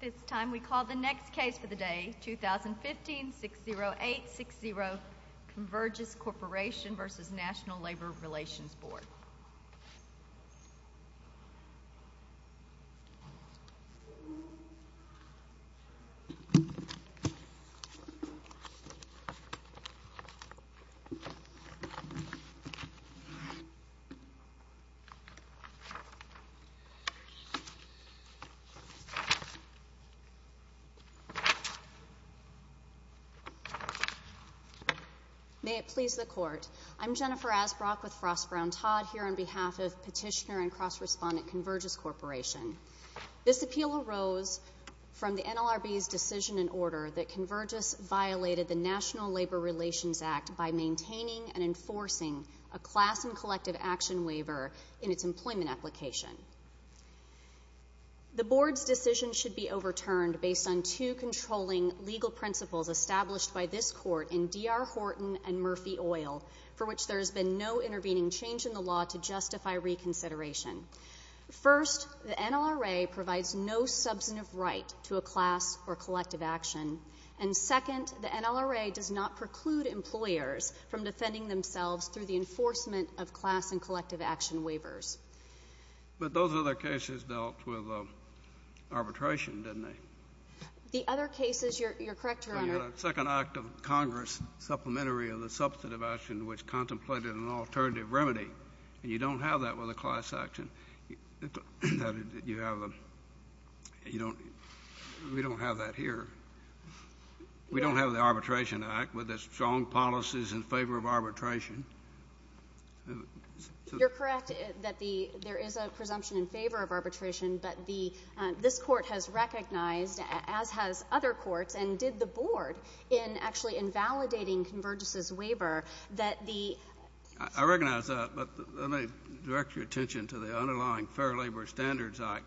This time we call the next case for the day, 2015-60860, Convergys Corporation v. National May it please the Court, I'm Jennifer Asbrock with Frost Brown Todd here on behalf of Petitioner and Cross Respondent Convergys Corporation. This appeal arose from the NLRB's decision and order that Convergys violated the National Labor Relations Act by maintaining and enforcing a class and collective action waiver in its employment application. The Board's decision should be overturned based on two controlling legal principles established by this Court in D.R. Horton v. Murphy Oil, for which there has been no intervening change in the law to justify reconsideration. First, the NLRA provides no substantive right to a class or collective action. And second, the NLRA does not preclude employers from defending themselves through the enforcement of class and collective action waivers. But those other cases dealt with arbitration, didn't they? The other cases, you're correct, Your Honor. But you had a second act of Congress, supplementary of the substantive action, which contemplated an alternative remedy. And you don't have that with a class action. You have a, you don't, we don't have that here. We don't have the Arbitration Act with its strong policies in favor of arbitration. You're correct that the, there is a presumption in favor of arbitration, but the, this court has recognized, as has other courts and did the Board, in actually invalidating Convergys's waiver, that the. I recognize that, but let me direct your attention to the underlying Fair Labor Standards Act.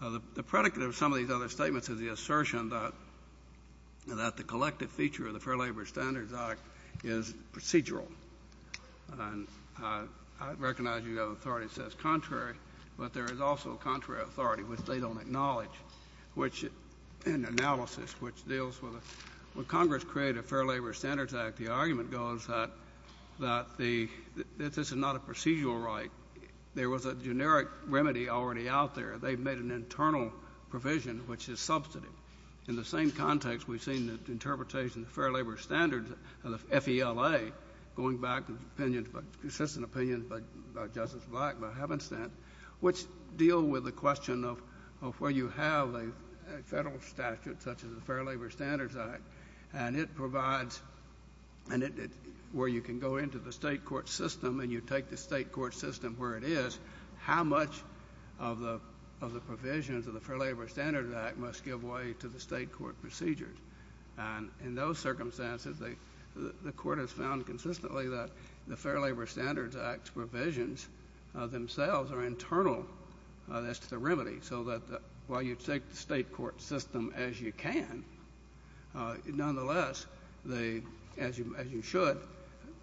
The, the predicate of some of these other statements is the assertion that, that the collective feature of the Fair Labor Standards Act is procedural. And I, I recognize you have authority that says contrary, but there is also contrary authority, which they don't acknowledge. Which, in analysis, which deals with, when Congress created a Fair Labor Standards Act, the argument goes that, that the, that this is not a procedural right. There was a generic remedy already out there. They've made an internal provision, which is substantive. In the same context, we've seen the interpretation of the Fair Labor Standards, of the F-E-L-A, going back to the opinions, consistent opinions by, by Justice Black, by Havenstead, which deal with the question of, of where you have a, a federal statute such as the Fair Labor Standards Act. And it provides, and it, where you can go into the state court system and you take the state court system where it is, how much of the, of the provisions of the Fair Labor Standards Act must give way to the state court procedures. And in those circumstances, they, the, the court has found consistently that the Fair Labor Standards Act's provisions themselves are internal as to the remedy. So that while you take the state court system as you can, nonetheless, they, as you, as you should,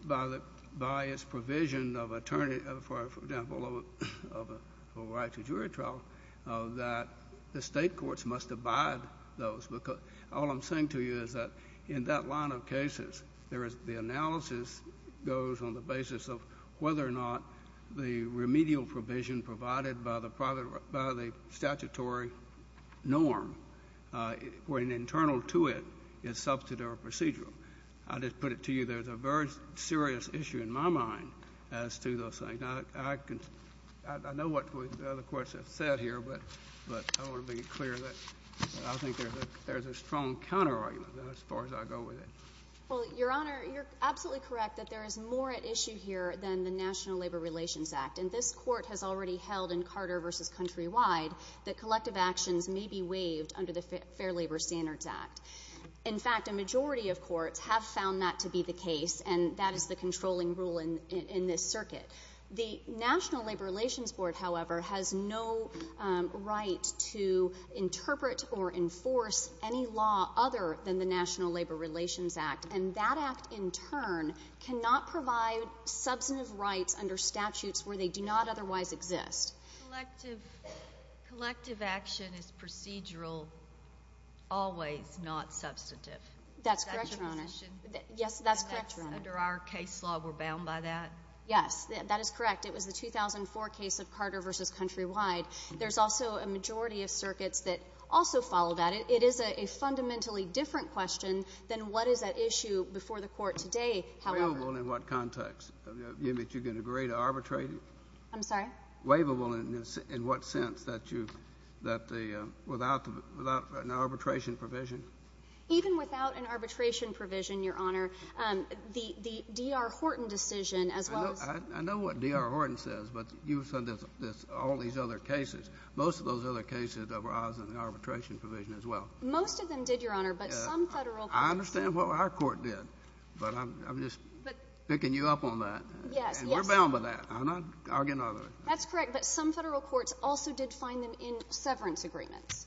by the, by its provision of attorney, for example, of a, of a right to jury trial, that the state courts must abide those because all I'm saying to you is that in that line of cases, there is, the analysis goes on the basis of whether or not the remedial provision provided by the private, by the statutory norm, or an internal to it, is substantive or procedural. I'll just put it to you. There's a very serious issue in my mind as to those things. I, I can, I, I know what the other courts have said here, but, but I want to be clear that I think there's a, there's a strong counter-argument as far as I go with it. Well, Your Honor, you're absolutely correct that there is more at issue here than the National Labor Relations Act. And this Court has already held in Carter v. Countrywide that collective actions may be waived under the Fair Labor Standards Act. In fact, a majority of courts have found that to be the case, and that is the controlling rule in, in, in this circuit. The National Labor Relations Board, however, has no right to interpret or enforce any law other than the National Labor Relations Act. And that act, in turn, cannot provide substantive rights under statutes where they do not otherwise exist. Collective, collective action is procedural, always not substantive. That's correct, Your Honor. Is that your position? Yes, that's correct, Your Honor. And that's under our case law. We're bound by that? Yes. That is correct. It was the 2004 case of Carter v. Countrywide. There's also a majority of circuits that also follow that. But it is a, a fundamentally different question than what is at issue before the Court today, however. Waivable in what context? You mean that you can agree to arbitrate it? I'm sorry? Waivable in, in what sense? That you, that the, without the, without an arbitration provision? Even without an arbitration provision, Your Honor, the, the D.R. Horton decision, as well as... I know, I know what D.R. Horton says, but you've said there's, there's all these other cases. Most of those other cases that were out of the arbitration provision, as well. Most of them did, Your Honor, but some Federal courts... I understand what our court did, but I'm, I'm just picking you up on that. Yes, yes. And we're bound by that. I'm not arguing otherwise. That's correct. But some Federal courts also did find them in severance agreements,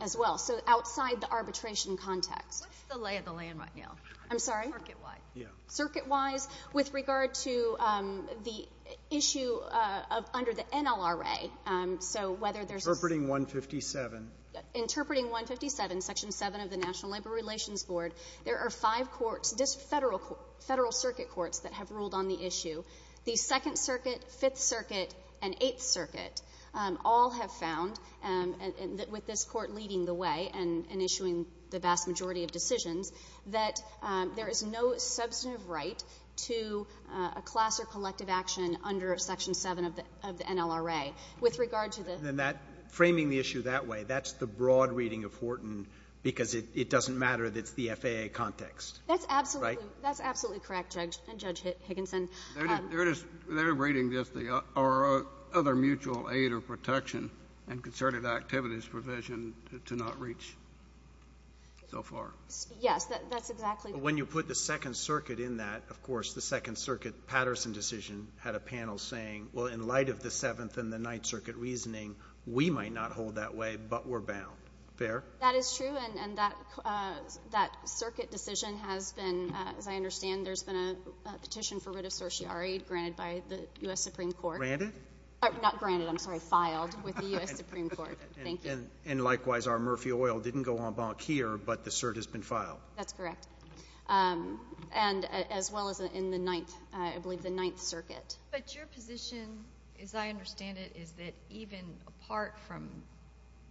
as well. So outside the arbitration context. What's the lay of the land right now? I'm sorry? Circuit-wide. Yeah. Circuit-wise. Circuit-wise. With regard to the issue of, under the NLRA, so whether there's... Interpreting 157. Yeah. Interpreting 157, Section 7 of the National Labor Relations Board. There are five courts, just Federal courts, Federal Circuit courts that have ruled on the issue. The Second Circuit, Fifth Circuit, and Eighth Circuit all have found, with this court leading the way and, and issuing the vast majority of decisions, that there is no substantive right to a class or collective action under Section 7 of the, of the NLRA. With regard to the... And that, framing the issue that way, that's the broad reading of Horton, because it, it doesn't matter that it's the FAA context. That's absolutely... Right? That's absolutely correct, Judge, and Judge Higginson. They're just, they're reading just the, or other mutual aid or protection and concerted activities provision to not reach so far. Yes. That's exactly... But when you put the Second Circuit in that, of course, the Second Circuit Patterson decision had a panel saying, well, in light of the Seventh and the Ninth Circuit reasoning, we might not hold that way, but we're bound. Fair? That is true, and, and that, that Circuit decision has been, as I understand, there's been a petition for writ of certiorari granted by the U.S. Supreme Court. Granted? Not granted, I'm sorry, filed with the U.S. Supreme Court. Thank you. And, and likewise, our Murphy Oil didn't go en banc here, but the cert has been filed. That's correct. And, as well as in the Ninth, I believe the Ninth Circuit. But your position, as I understand it, is that even apart from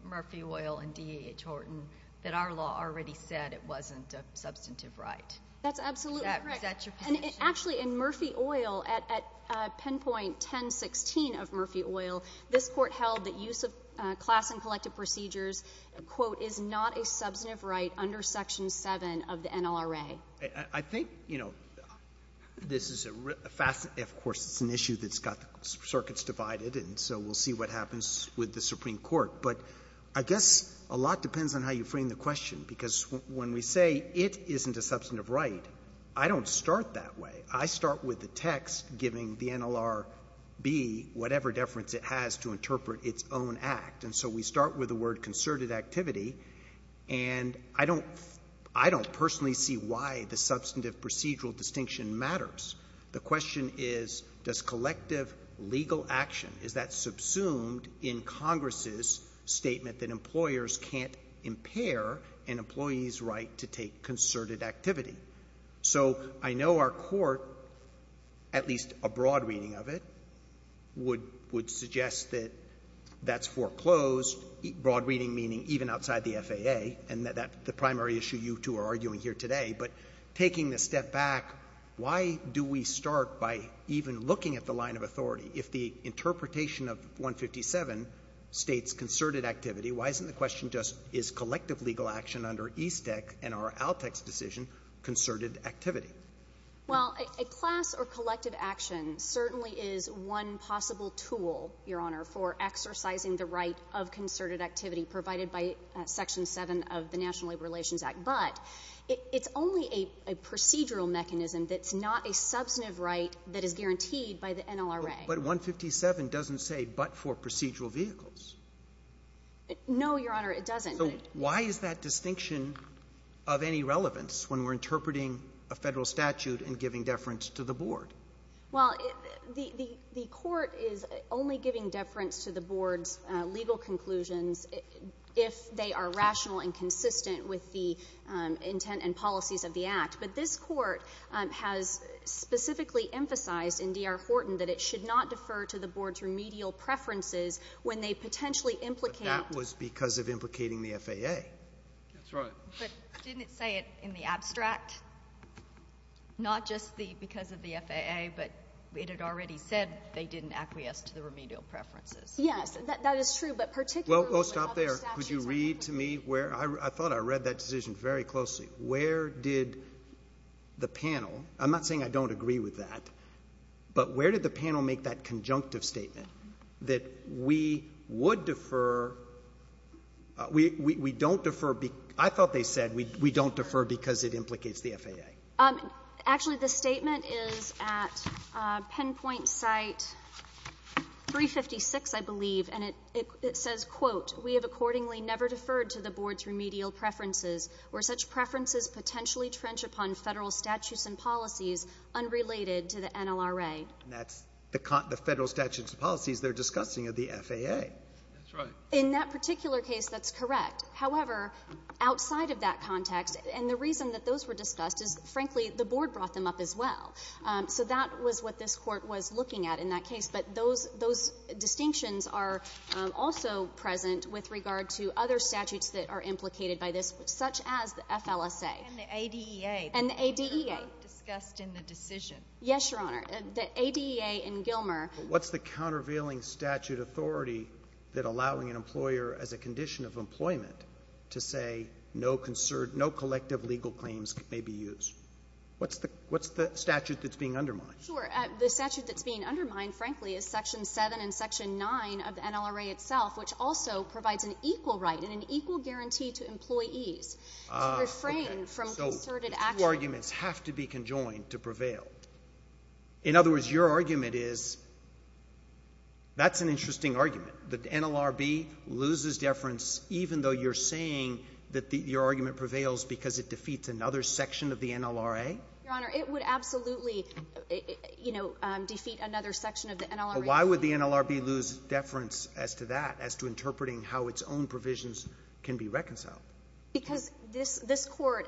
Murphy Oil and D.A.H. Horton, that our law already said it wasn't a substantive right. That's absolutely correct. Is that your position? And actually, in Murphy Oil, at, at pinpoint 1016 of Murphy Oil, this court held that use of class and collective procedures, quote, is not a substantive right under Section 7 of the NLRA. I, I think, you know, this is a fascinating, of course, it's an issue that's got the circuits divided, and so we'll see what happens with the Supreme Court. But I guess a lot depends on how you frame the question, because when we say it isn't a substantive right, I don't start that way. I start with the text giving the NLRB whatever deference it has to interpret its own act. And so we start with the word concerted activity, and I don't, I don't personally see why the substantive procedural distinction matters. The question is, does collective legal action, is that subsumed in Congress's statement that employers can't impair an employee's right to take concerted activity? So I know our Court, at least a broad reading of it, would, would suggest that that's foreclosed, broad reading meaning even outside the FAA, and that, that's the primary issue you two are arguing here today. But taking a step back, why do we start by even looking at the line of authority? If the interpretation of 157 states concerted activity, why isn't the question just, is collective legal action under EASTEC and our ALTEC's decision concerted activity? Well, a class or collective action certainly is one possible tool, Your Honor, for exercising the right of concerted activity provided by Section 7 of the National Labor Relations Act. But it's only a procedural mechanism that's not a substantive right that is guaranteed by the NLRA. But 157 doesn't say but for procedural vehicles. No, Your Honor, it doesn't. So why is that distinction of any relevance when we're interpreting a federal statute and giving deference to the Board? Well, the, the, the Court is only giving deference to the Board's legal conclusions if they are rational and consistent with the intent and policies of the Act. But this Court has specifically emphasized in D.R. Horton that it should not defer to the Board's remedial preferences when they potentially implicate. But that was because of implicating the FAA. That's right. But didn't it say it in the abstract? Not just the, because of the FAA, but it had already said they didn't acquiesce to the remedial preferences. Yes. That, that is true, but particularly. Well, oh, stop there. Could you read to me where, I, I thought I read that decision very closely. Where did the panel, I'm not saying I don't agree with that, but where did the panel make that conjunctive statement that we would defer, we, we, we don't defer, I thought they said we, we don't defer because it implicates the FAA. Actually, the statement is at Penpoint Site 356, I believe, and it, it, it says, quote, we have accordingly never deferred to the Board's remedial preferences where such preferences potentially trench upon federal statutes and policies unrelated to the NLRA. And that's the, the federal statutes and policies they're discussing are the FAA. That's right. In that particular case, that's correct. However, outside of that context, and the reason that those were discussed is, frankly, the Board brought them up as well. So that was what this Court was looking at in that case. But those, those distinctions are also present with regard to other statutes that are implicated by this, such as the FLSA. And the ADEA. And the ADEA. Discussed in the decision. Yes, Your Honor. The ADEA in Gilmer. But what's the countervailing statute authority that allowing an employer as a condition of employment to say no concert, no collective legal claims may be used? What's the, what's the statute that's being undermined? Sure. The statute that's being undermined, frankly, is Section 7 and Section 9 of the NLRA itself, which also provides an equal right and an equal guarantee to employees to refrain from concerted action. So the two arguments have to be conjoined to prevail. In other words, your argument is, that's an interesting argument. The NLRB loses deference even though you're saying that the, your argument prevails because it defeats another section of the NLRA? Your Honor, it would absolutely, you know, defeat another section of the NLRA. Why would the NLRB lose deference as to that, as to interpreting how its own provisions can be reconciled? Because this, this Court,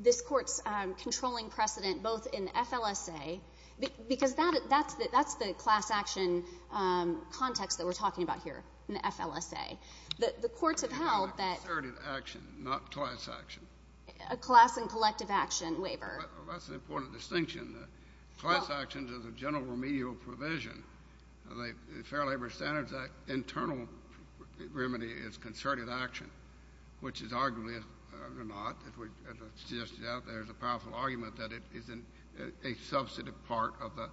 this Court's controlling precedent both in FLSA, because that, that's the, that's the class action context that we're talking about here, in the FLSA. The, the courts have held that. Concerted action, not class action. A class and collective action waiver. That's an important distinction. Class action is a general remedial provision. The Fair Labor Standards Act internal remedy is concerted action, which is arguably, or not, as we, as I suggested out there, is a powerful argument that it, isn't a substantive part of the,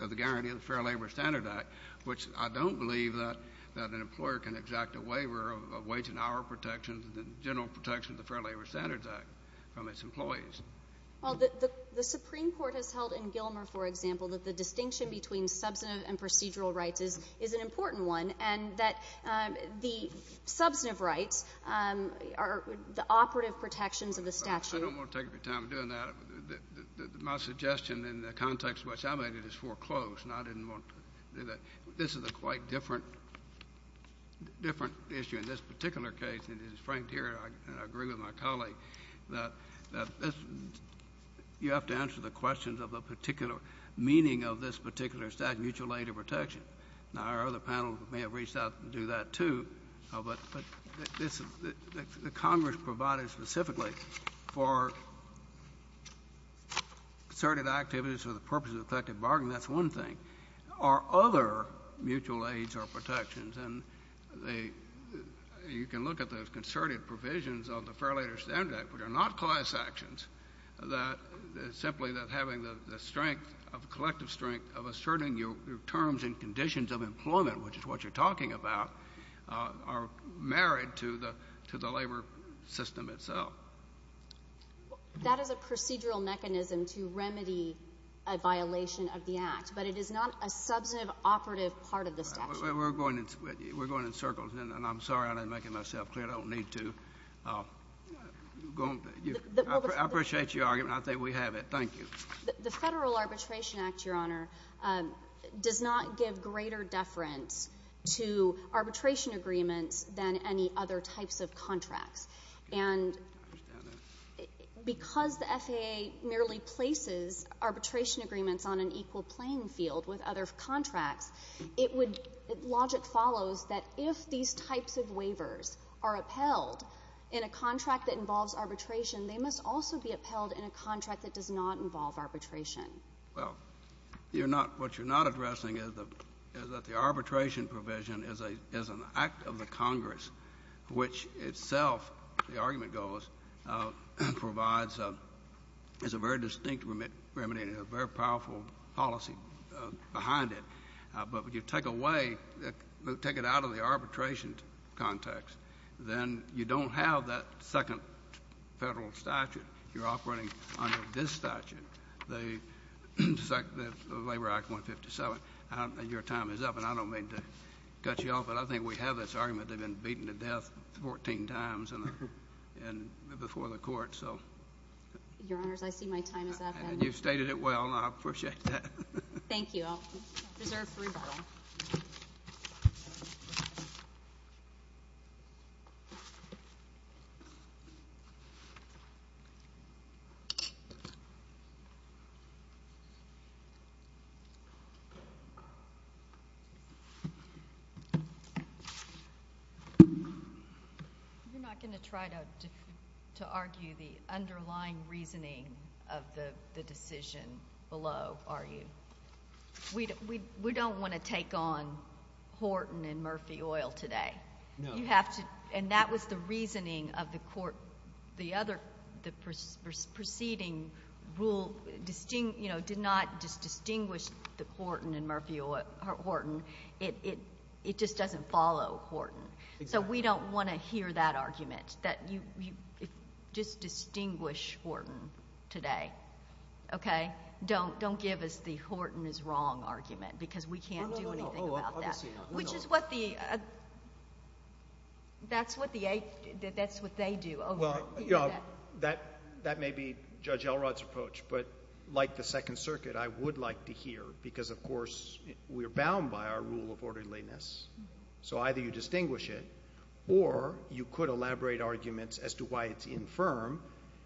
of the guarantee of the Fair Labor Standards Act, which I don't believe that, that an employer can exact a waiver of, of wage and hour protections and general protections of the Fair Labor Standards Act from its employees. Well, the, the, the Supreme Court has held in Gilmer, for example, that the distinction between substantive and procedural rights is, is an important one, and that the substantive rights are the operative protections of the statute. I don't want to take up your time doing that. My suggestion in the context in which I made it is foreclosed, and I didn't want to do that. This is a quite different, different issue in this particular case, and it is franked here, and I agree with my colleague, that, that this, you have to answer the questions of the particular meaning of this particular statute, mutual aid or protection. Now, our other panel may have reached out to do that, too, but, but this, the, the, the Congress provided specifically for concerted activities for the purposes of collective bargaining. That's one thing. Are other mutual aids or protections, and the, you can look at those concerted provisions of the Fair Labor Standards Act, which are not class actions, that, that simply that the conditions of employment, which is what you're talking about, are married to the, to the labor system itself. That is a procedural mechanism to remedy a violation of the Act, but it is not a substantive operative part of the statute. We're going in, we're going in circles, and, and I'm sorry I didn't make it myself clear. I don't need to. Go on. I appreciate your argument. I think we have it. Thank you. The Federal Arbitration Act, Your Honor, does not give greater deference to arbitration agreements than any other types of contracts, and because the FAA merely places arbitration agreements on an equal playing field with other contracts, it would, logic follows that if these types of waivers are upheld in a contract that involves arbitration, they must also be upheld in a contract that does not involve arbitration. Well, you're not, what you're not addressing is that, is that the arbitration provision is a, is an act of the Congress, which itself, the argument goes, provides a, is a very distinct remedy, a very powerful policy behind it, but if you take away, take it out of the arbitration context, then you don't have that second Federal statute. You're operating under this statute, the Labor Act 157. Your time is up, and I don't mean to cut you off, but I think we have this argument. They've been beaten to death 14 times in the, before the Court, so. Your Honors, I see my time is up, and you've stated it well, and I appreciate that. Thank you. Well, reserve three. You're not going to try to, to argue the underlying reasoning of the, the decision below, are you? Well, we, we, we don't want to take on Horton and Murphy Oil today. No. You have to, and that was the reasoning of the Court, the other, the preceding rule distinct, you know, did not just distinguish the Horton and Murphy Oil, Horton, it, it, it just doesn't follow Horton. Exactly. So we don't want to hear that argument, that you, you, just distinguish Horton today, okay? Don't, don't give us the Horton is wrong argument, because we can't do anything about that. No, no, no. Obviously not. Which is what the, that's what the, that's what they do over, you know, that, that may be Judge Elrod's approach, but like the Second Circuit, I would like to hear, because of course, we are bound by our rule of orderliness, so either you distinguish it, or you could elaborate arguments as to why it's infirm,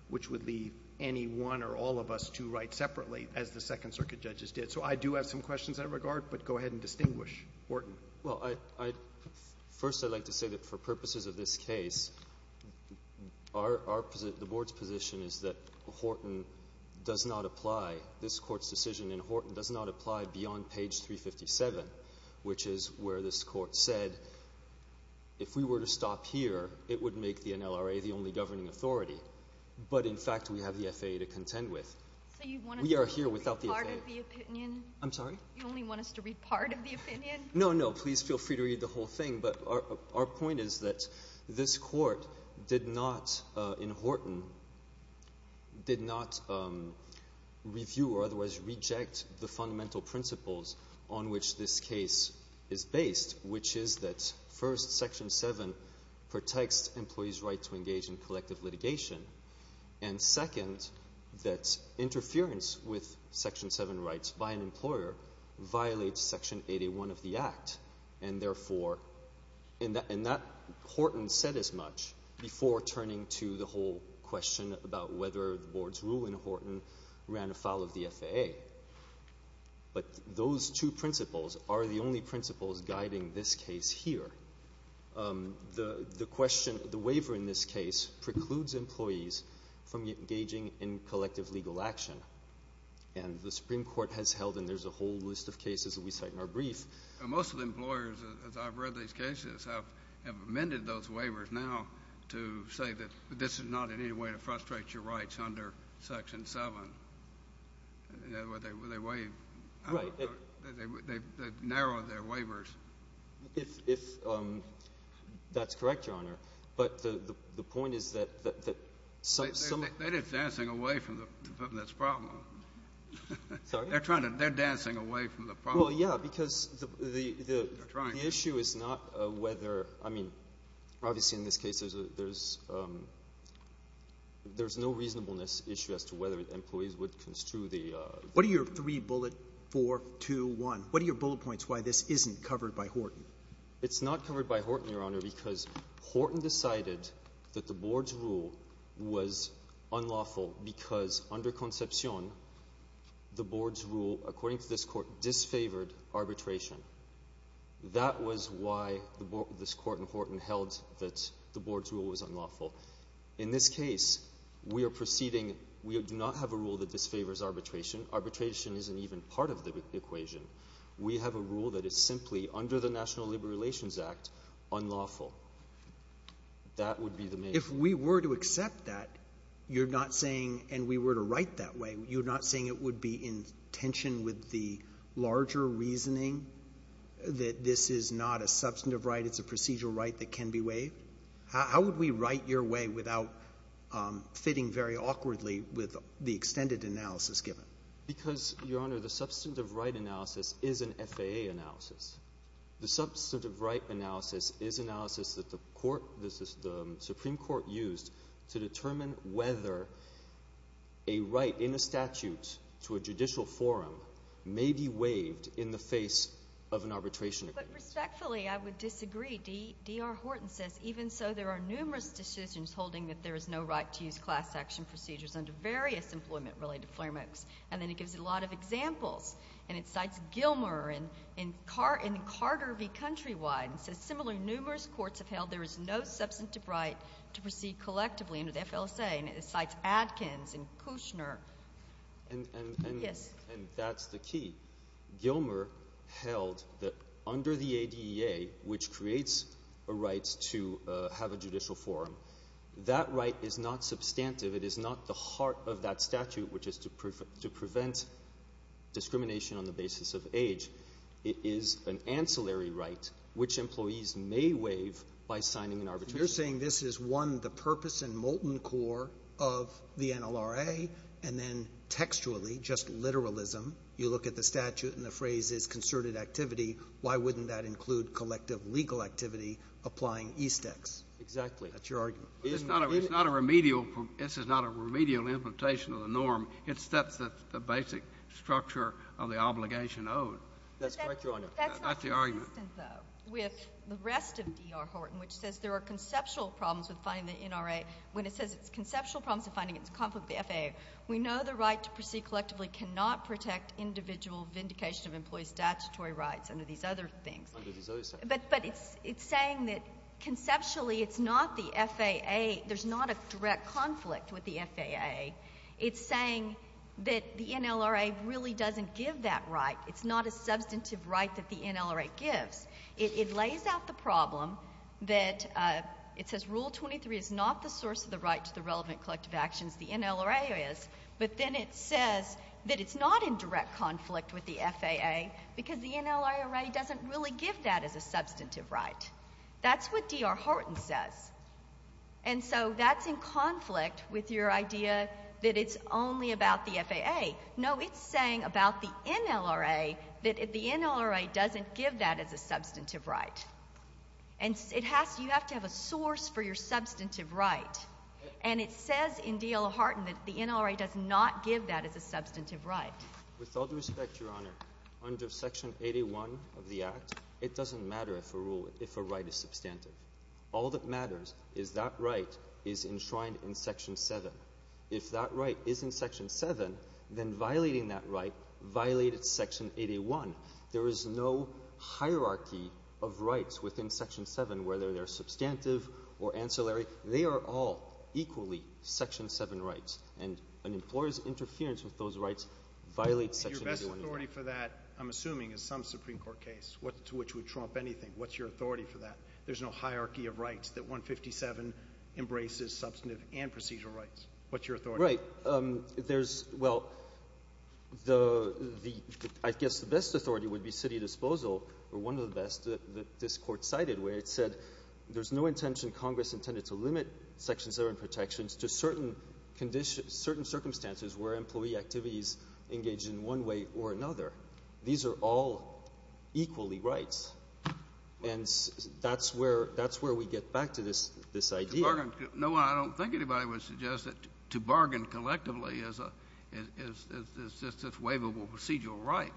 which would leave any one or all of us two to fight separately, as the Second Circuit judges did. So I do have some questions in that regard, but go ahead and distinguish Horton. Well, I, I, first I'd like to say that for purposes of this case, our, our, the Board's position is that Horton does not apply, this Court's decision in Horton does not apply beyond page 357, which is where this Court said, if we were to stop here, it would make the NLRA the only governing authority, but in fact, we have the FAA to contend with. So you want us to read part of the opinion? We are here without the FAA. I'm sorry? You only want us to read part of the opinion? No, no, please feel free to read the whole thing, but our, our point is that this Court did not, in Horton, did not review or otherwise reject the fundamental principles on which this case is based, which is that, first, Section 7 protects employees' right to engage in collective litigation, and second, that interference with Section 7 rights by an employer violates Section 881 of the Act, and therefore, and that, and that Horton said as much before turning to the whole question about whether the Board's rule in Horton ran afoul of the FAA. But those two principles are the only principles guiding this case here. The, the question, the waiver in this case precludes employees from engaging in collective legal action, and the Supreme Court has held, and there's a whole list of cases that we cite in our brief. Most of the employers, as I've read these cases, have, have amended those waivers now to say that this is not in any way to frustrate your rights under Section 7. In other words, they, they waive. Right. They, they, they narrow their waivers. If, if that's correct, Your Honor, but the, the, the point is that, that, that some, some They, they, they're just dancing away from the, from this problem. Sorry? They're trying to, they're dancing away from the problem. Well, yeah, because the, the, the, the issue is not whether, I mean, obviously in this case there's a, there's, there's no reasonableness issue as to whether employees would construe the, the 4, 2, 1. What are your bullet points why this isn't covered by Horton? It's not covered by Horton, Your Honor, because Horton decided that the Board's rule was unlawful because under Concepcion, the Board's rule, according to this Court, disfavored arbitration. That was why the Board, this Court in Horton held that the Board's rule was unlawful. In this case, we are proceeding, we do not have a rule that disfavors arbitration. Arbitration isn't even part of the equation. We have a rule that is simply, under the National Labor Relations Act, unlawful. That would be the main... If we were to accept that, you're not saying, and we were to write that way, you're not saying it would be in tension with the larger reasoning that this is not a substantive right, it's a procedural right that can be waived? How would we write your way without fitting very awkwardly with the extended analysis given? Because, Your Honor, the substantive right analysis is an FAA analysis. The substantive right analysis is analysis that the Supreme Court used to determine whether a right in a statute to a judicial forum may be waived in the face of an arbitration agreement. But respectfully, I would disagree. D.R. Horton says, even so, there are numerous decisions holding that there is no right to use class action procedures under various employment-related frameworks. And then it gives a lot of examples. And it cites Gilmer in Carter v. Countrywide and says, similarly, numerous courts have held there is no substantive right to proceed collectively under the FLSA. And it cites Adkins and Kushner. And that's the key. Gilmer held that under the ADEA, which creates a right to have a judicial forum, that right is not substantive. It is not the heart of that statute, which is to prevent discrimination on the basis of age. It is an ancillary right, which employees may waive by signing an arbitration. You're saying this is, one, the purpose and molten core of the NLRA, and then textually, just literalism. You look at the statute and the phrase is concerted activity. Why wouldn't that include collective legal activity applying ESTEX? Exactly. That's your argument. It's not a remedial. This is not a remedial implementation of the norm. It sets the basic structure of the obligation owed. That's correct, Your Honor. That's the argument. But that's not consistent, though, with the rest of D.R. Horton, which says there are conceptual problems with finding the NLRA. When it says it's conceptual problems with finding it, it's conflict with the FAA. We know the right to proceed collectively cannot protect individual vindication of employee statutory rights under these other things. Under these other things. But it's saying that conceptually it's not the FAA. There's not a direct conflict with the FAA. It's saying that the NLRA really doesn't give that right. It's not a substantive right that the NLRA gives. It lays out the problem that it says Rule 23 is not the source of the right to the relevant collective actions. The NLRA is. But then it says that it's not in direct conflict with the FAA because the NLRA doesn't really give that as a substantive right. That's what D.R. Horton says. And so that's in conflict with your idea that it's only about the FAA. No, it's saying about the NLRA that the NLRA doesn't give that as a substantive right. And you have to have a source for your substantive right. And it says in D.R. Horton that the NLRA does not give that as a substantive right. With all due respect, Your Honor, under Section 81 of the Act, it doesn't matter if a right is substantive. All that matters is that right is enshrined in Section 7. If that right is in Section 7, then violating that right violated Section 81. There is no hierarchy of rights within Section 7, whether they're substantive or ancillary. They are all equally Section 7 rights. And an employer's interference with those rights violates Section 81 of the Act. Your best authority for that, I'm assuming, is some Supreme Court case to which we trump anything. What's your authority for that? There's no hierarchy of rights that 157 embraces substantive and procedural rights. What's your authority? Right. There's – well, I guess the best authority would be city disposal, or one of the best that this Court cited where it said there's no intention Congress intended to limit Section 7 protections to certain circumstances where employee activities engage in one way or another. These are all equally rights. And that's where we get back to this idea. To bargain – no, I don't think anybody would suggest that to bargain collectively is just a waivable procedural right.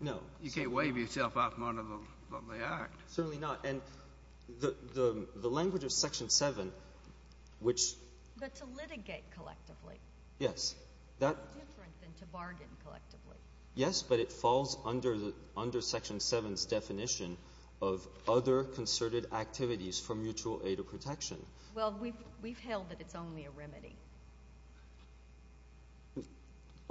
No. You can't waive yourself off one of them when they act. Certainly not. And the language of Section 7, which – But to litigate collectively. Yes. That's different than to bargain collectively. Yes, but it falls under Section 7's definition of other concerted activities for mutual aid or protection. Well, we've held that it's only a remedy.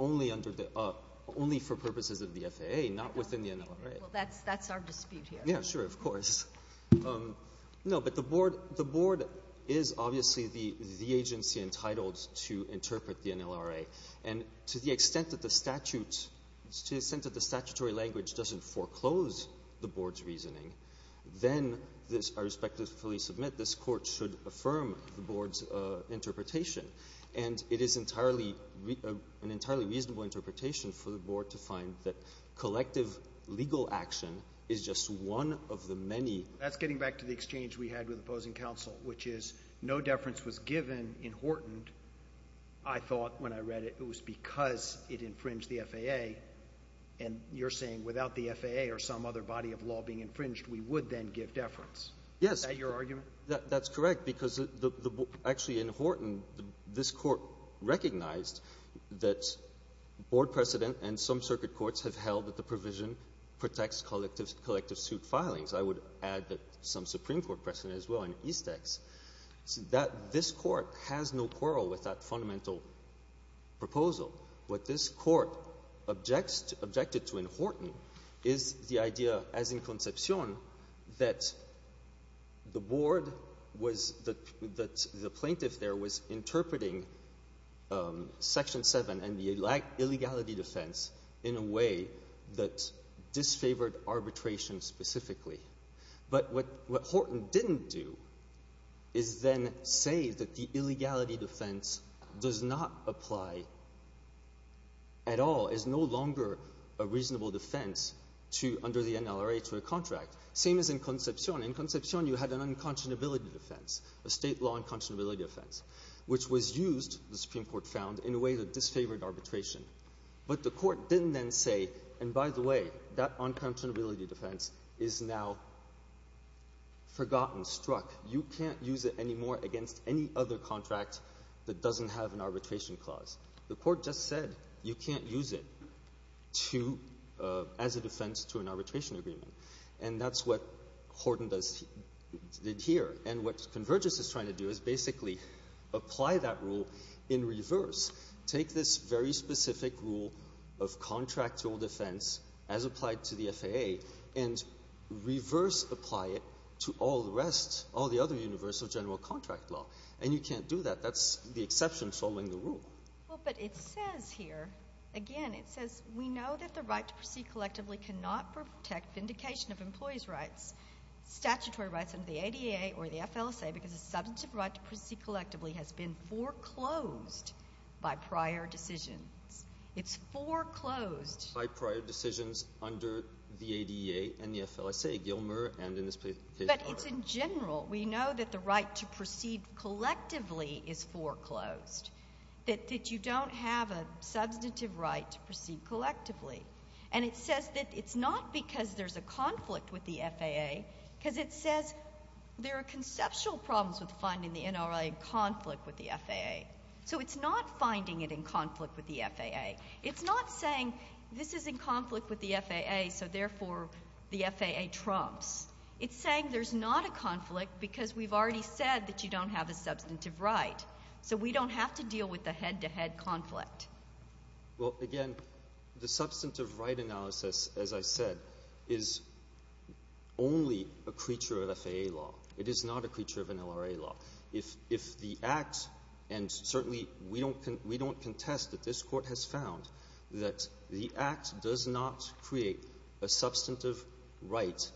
Only under the – only for purposes of the FAA, not within the NLRA. Well, that's our dispute here. Yeah, sure. Of course. No, but the Board is obviously the agency entitled to interpret the NLRA. And to the extent that the statute – to the extent that the statutory language doesn't foreclose the Board's reasoning, then this – I respectfully submit this interpretation. And it is entirely – an entirely reasonable interpretation for the Board to find that collective legal action is just one of the many – That's getting back to the exchange we had with opposing counsel, which is no deference was given in Horton. I thought when I read it it was because it infringed the FAA. And you're saying without the FAA or some other body of law being infringed, we would then give deference. Yes. Is that your argument? That's correct, because actually in Horton, this Court recognized that Board precedent and some circuit courts have held that the provision protects collective suit filings. I would add that some Supreme Court precedent as well in Eastex. This Court has no quarrel with that fundamental proposal. What this Court objected to in Horton is the idea as in Concepcion that the Board was – that the plaintiff there was interpreting Section 7 and the illegality defense in a way that disfavored arbitration specifically. But what Horton didn't do is then say that the illegality defense does not apply at all, is no longer a reasonable defense to – under the NLRA to a contract. Same as in Concepcion. In Concepcion, you had an unconscionability defense, a state law unconscionability defense, which was used, the Supreme Court found, in a way that disfavored arbitration. But the Court didn't then say, and by the way, that unconscionability defense is now forgotten, struck. You can't use it anymore against any other contract that doesn't have an arbitration clause. The Court just said you can't use it to – as a defense to an arbitration agreement. And that's what Horton does here. And what Convergys is trying to do is basically apply that rule in reverse. Take this very specific rule of contractual defense as applied to the FAA and reverse apply it to all the rest, all the other universal general contract law. And you can't do that. That's the exception following the rule. Well, but it says here – again, it says we know that the right to proceed collectively cannot protect vindication of employees' rights, statutory rights under the ADA or the FLSA, because the substantive right to proceed collectively has been foreclosed by prior decisions. It's foreclosed – By prior decisions under the ADA and the FLSA, Gilmer and in this case, Ard. But it's in general. We know that the right to proceed collectively is foreclosed, that you don't have a substantive right to proceed collectively. And it says that it's not because there's a conflict with the FAA because it says there are conceptual problems with finding the NRA in conflict with the FAA. So it's not finding it in conflict with the FAA. It's not saying this is in conflict with the FAA, so therefore the FAA trumps. It's saying there's not a conflict because we've already said that you don't have a substantive right. So we don't have to deal with the head-to-head conflict. Well, again, the substantive right analysis, as I said, is only a creature of FAA law. It is not a creature of an NRA law. If the Act – and certainly we don't contest that this Court has found that the Act does not create a substantive right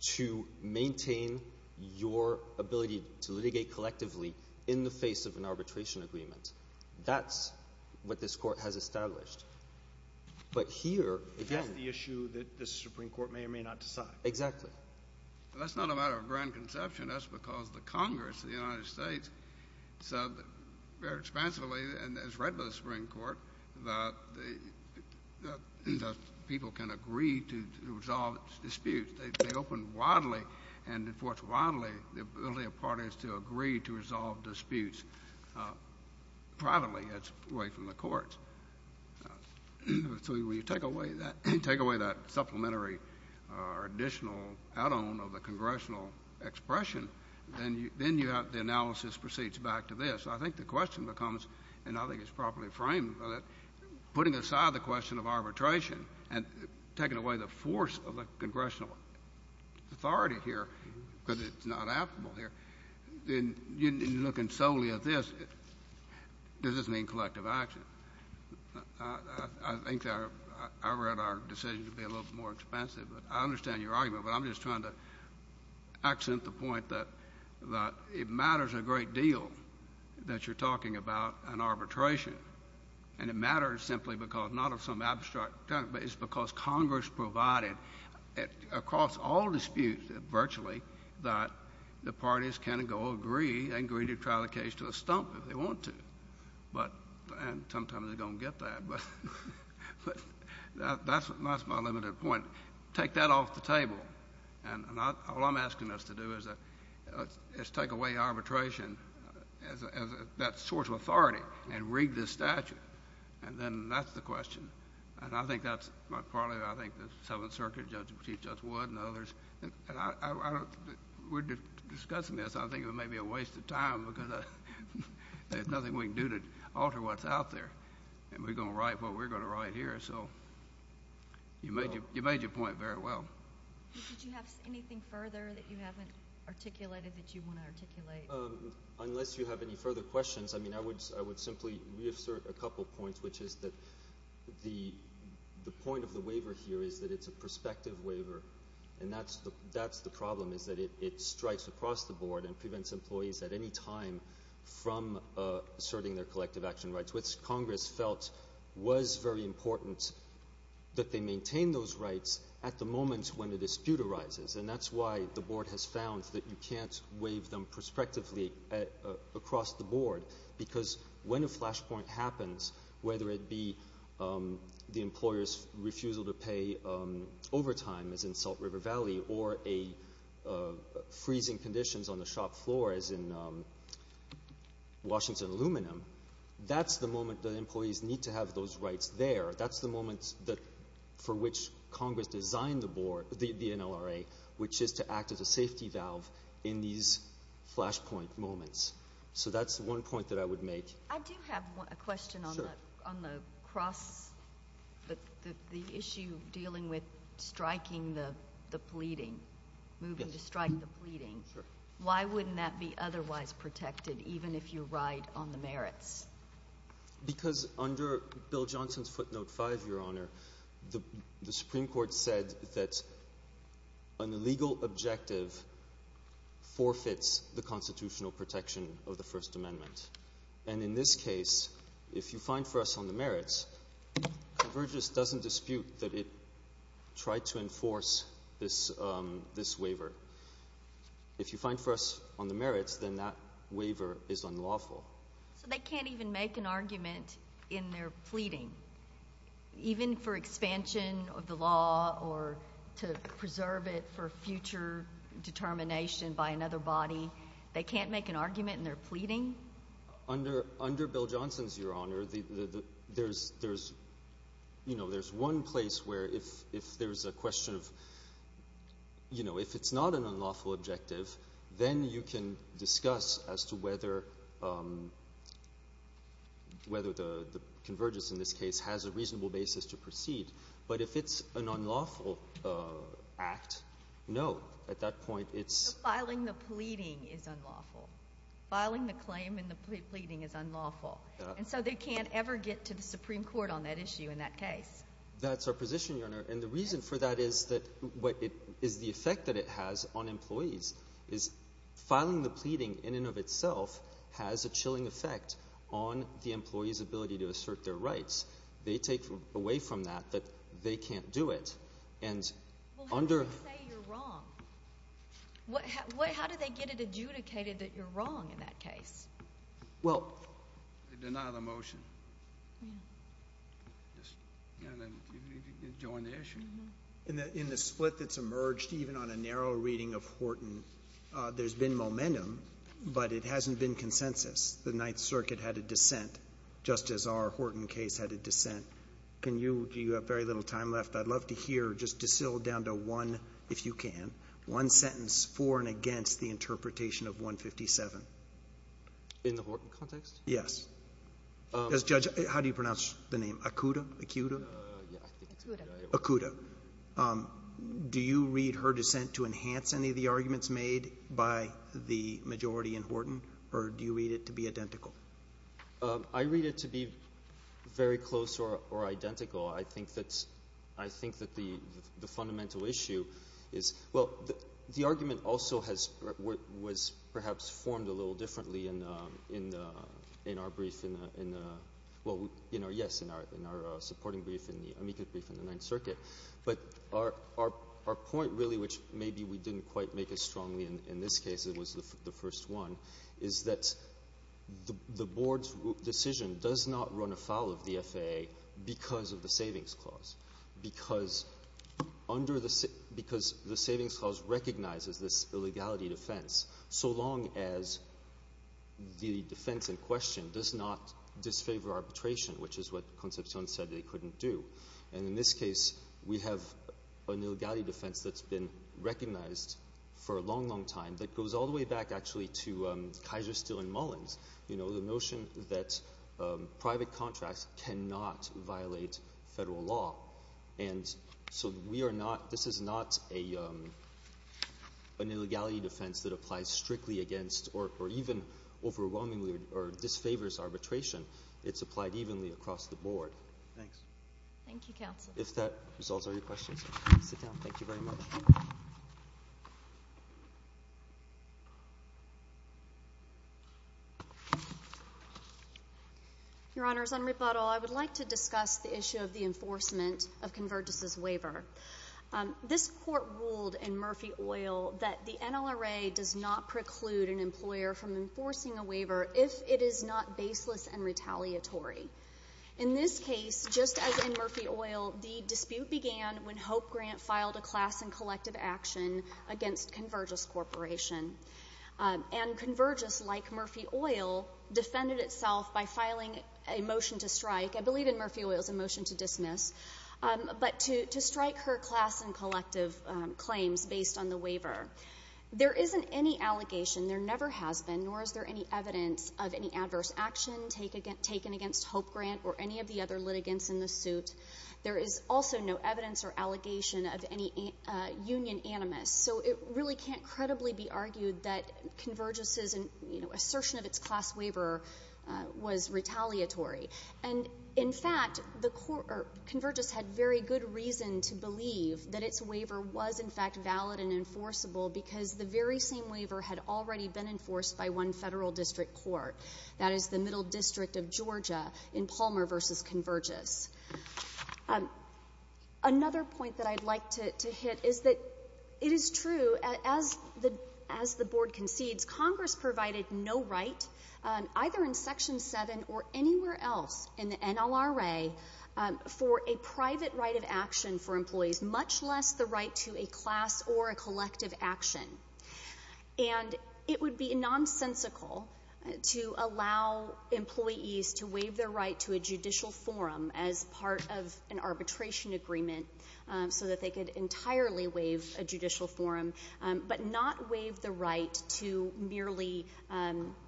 to maintain your ability to litigate collectively in the face of an arbitration agreement. That's what this Court has established. But here, again – That's the issue that the Supreme Court may or may not decide. Exactly. That's not a matter of grand conception. That's because the Congress of the United States said very expansively and as read by the Supreme Court that people can agree to resolve disputes. They opened widely and enforced widely the ability of parties to agree to resolve disputes. Privately, that's away from the courts. So when you take away that supplementary or additional add-on of the congressional expression, then you have – the analysis proceeds back to this. I think the question becomes, and I think it's properly framed, putting aside the question of arbitration and taking away the force of the congressional authority here because it's not applicable here, then you're looking solely at this. Does this mean collective action? I think our – I read our decision to be a little bit more expansive, but I understand your argument. But I'm just trying to accent the point that it matters a great deal that you're talking about an arbitration. And it matters simply because – not of some abstract – but it's because Congress provided across all disputes virtually that the parties can go agree and agree to trial the case to a stump if they want to. But – and sometimes they're going to get that, but that's my limited point. Take that off the table. And all I'm asking us to do is take away arbitration as that source of authority and rig the statute. And then that's the question. And I think that's probably what I think the Seventh Circuit, Judge Petit, just would and others. And I don't – we're discussing this. I think it may be a waste of time because there's nothing we can do to alter what's out there. And we're going to write what we're going to write here. So you made your point very well. Did you have anything further that you haven't articulated that you want to articulate? Unless you have any further questions, I mean, I would simply reassert a couple points, which is that the point of the waiver here is that it's a prospective waiver. And that's the problem, is that it strikes across the board and prevents employees at any time from asserting their collective action rights, which Congress felt was very important that they maintain those rights at the moment when a dispute arises. And that's why the board has found that you can't waive them prospectively across the board, because when a flashpoint happens, whether it be the employer's refusal to pay overtime, as in Salt River Valley, or freezing conditions on the shop floor, as in Washington Aluminum, that's the moment that employees need to have those rights there. That's the moment for which Congress designed the NLRA, which is to act as a safety valve in these flashpoint moments. So that's one point that I would make. I do have a question on the issue dealing with striking the pleading, moving to strike the pleading. Why wouldn't that be otherwise protected, even if you ride on the merits? Because under Bill Johnson's footnote 5, Your Honor, the Supreme Court said that an extension of the First Amendment. And in this case, if you find for us on the merits, Convergys doesn't dispute that it tried to enforce this waiver. If you find for us on the merits, then that waiver is unlawful. So they can't even make an argument in their pleading, even for expansion of the law or to preserve it for future determination by another body. They can't make an argument in their pleading? Under Bill Johnson's, Your Honor, there's one place where if there's a question of, you know, if it's not an unlawful objective, then you can discuss as to whether the Convergys in this case has a reasonable basis to proceed. But if it's an unlawful act, no. Filing the pleading is unlawful. Filing the claim in the pleading is unlawful. And so they can't ever get to the Supreme Court on that issue in that case. That's our position, Your Honor. And the reason for that is the effect that it has on employees. Filing the pleading in and of itself has a chilling effect on the employee's ability to assert their rights. They take away from that that they can't do it. Well, how do they say you're wrong? How do they get it adjudicated that you're wrong in that case? Well, they deny the motion. Yeah. And then you can join the issue. In the split that's emerged, even on a narrow reading of Horton, there's been momentum, but it hasn't been consensus. The Ninth Circuit had a dissent, just as our Horton case had a dissent. Do you have very little time left? I'd love to hear just distilled down to one, if you can, one sentence for and against the interpretation of 157. In the Horton context? Yes. Judge, how do you pronounce the name? Acuda? Acuda? Acuda. Acuda. Do you read her dissent to enhance any of the arguments made by the majority in Horton, or do you read it to be identical? I read it to be very close or identical. I think that the fundamental issue is, well, the argument also was perhaps formed a little differently in our supporting brief, in the amicus brief in the Ninth Circuit. But our point, really, which maybe we didn't quite make as strongly in this case, it was the first one, is that the board's decision does not run afoul of the FAA because of the savings clause, because the savings clause recognizes this illegality defense, so long as the defense in question does not disfavor arbitration, which is what Concepcion said they couldn't do. And in this case, we have an illegality defense that's been recognized for a long, long time that goes all the way back, actually, to Kaiser, Steele, and Mullins. You know, the notion that private contracts cannot violate federal law. And so this is not an illegality defense that applies strictly against or even overwhelmingly or disfavors arbitration. It's applied evenly across the board. Thanks. Thank you, counsel. If that resolves all your questions, please sit down. Thank you very much. Your Honors, on rebuttal, I would like to discuss the issue of the enforcement of Convergys' waiver. This Court ruled in Murphy-Oyl that the NLRA does not preclude an employer from enforcing a waiver if it is not baseless and retaliatory. In this case, just as in Murphy-Oyl, the dispute began when Hope Grant filed a class and collective action against Convergys Corporation. And Convergys, like Murphy-Oyl, defended itself by filing a motion to strike. I believe in Murphy-Oyl it was a motion to dismiss. But to strike her class and collective claims based on the waiver. There isn't any allegation, there never has been, nor is there any evidence of any adverse action taken against Hope Grant or any of the other litigants in the suit. There is also no evidence or allegation of any union animus. So it really can't credibly be argued that Convergys' assertion of its class waiver was retaliatory. And in fact, Convergys had very good reason to believe that its waiver was in fact valid and enforceable because the very same waiver had already been enforced by one Federal District Court. That is the Middle District of Georgia in Palmer v. Convergys. Another point that I'd like to hit is that it is true, as the Board concedes, Congress provided no right, either in Section 7 or anywhere else in the NLRA, for a private right of action for employees, much less the right to a class or a collective action. And it would be nonsensical to allow employees to waive their right to a judicial forum as part of an arbitration agreement so that they could entirely waive a judicial forum, but not waive the right to merely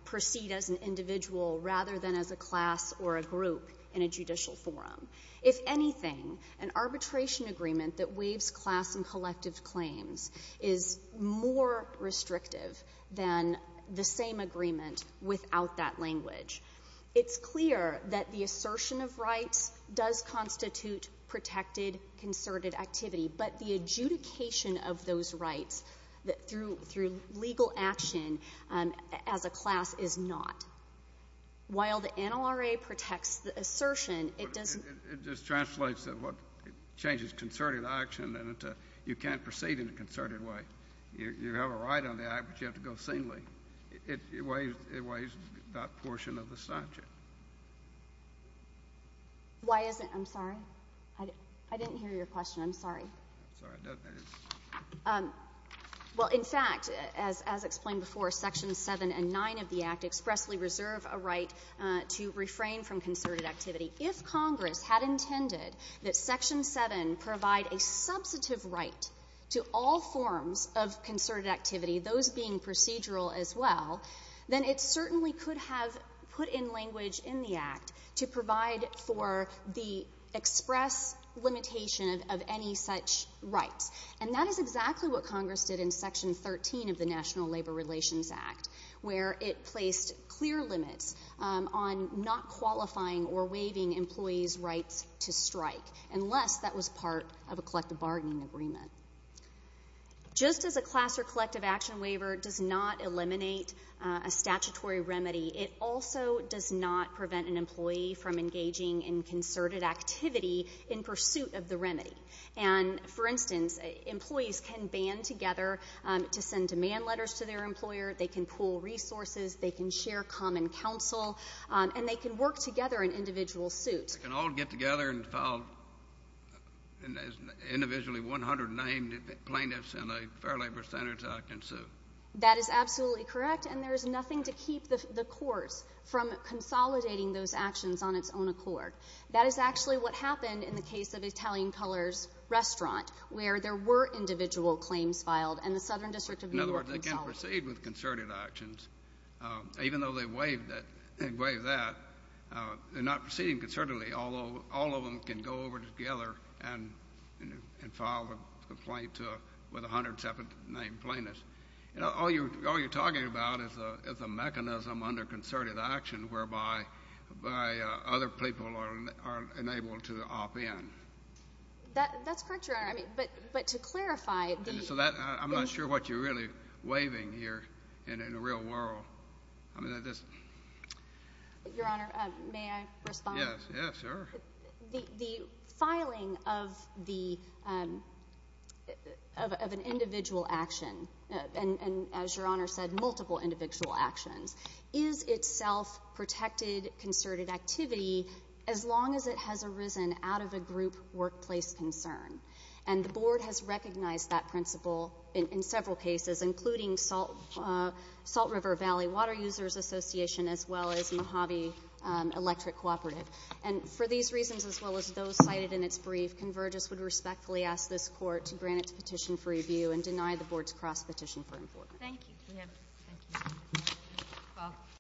proceed as an individual rather than as a class or a group in a judicial forum. If anything, an arbitration agreement that waives class and collective claims is more restrictive than the same agreement without that language. It's clear that the assertion of rights does constitute protected concerted activity, but the adjudication of those rights through legal action as a class is not. While the NLRA protects the assertion, it doesn't — It just translates to what changes concerted action, and you can't proceed in a concerted way. You have a right on the act, but you have to go senile. It waives that portion of the subject. Why isn't — I'm sorry? I didn't hear your question. I'm sorry. I'm sorry. Well, in fact, as explained before, Sections 7 and 9 of the Act expressly reserve a right to refrain from concerted activity. If Congress had intended that Section 7 provide a substantive right to all forms of concerted activity, those being procedural as well, then it certainly could have put in language in the Act to provide for the express limitation of any such rights. And that is exactly what Congress did in Section 13 of the National Labor Relations Act, where it placed clear limits on not qualifying or waiving employees' rights to strike, unless that was part of a collective bargaining agreement. Just as a class or collective action waiver does not eliminate a statutory remedy, it also does not prevent an employee from engaging in concerted activity in pursuit of the remedy. And, for instance, employees can band together to send demand letters to their employer. They can pool resources. They can share common counsel. And they can work together in individual suits. They can all get together and file individually 100 named plaintiffs in a Fair Labor Standards Act and sue. That is absolutely correct, and there is nothing to keep the courts from consolidating those actions on its own accord. That is actually what happened in the case of Italian Colors Restaurant, where there were individual claims filed and the Southern District of New York consolidated. In other words, they can proceed with concerted actions, even though they waived that. They're not proceeding concertedly, although all of them can go over together and file a complaint with 100 separate named plaintiffs. All you're talking about is a mechanism under concerted action whereby other people are unable to opt in. That's correct, Your Honor, but to clarify. I'm not sure what you're really waiving here in the real world. Your Honor, may I respond? Yes, sure. The filing of an individual action, and as Your Honor said, multiple individual actions, is itself protected concerted activity as long as it has arisen out of a group workplace concern. And the Board has recognized that principle in several cases, including Salt River Valley Water Users Association as well as Mojave Electric Cooperative. And for these reasons, as well as those cited in its brief, Convergys would respectfully ask this Court to grant its petition for review and deny the Board's cross-petition for information. Thank you.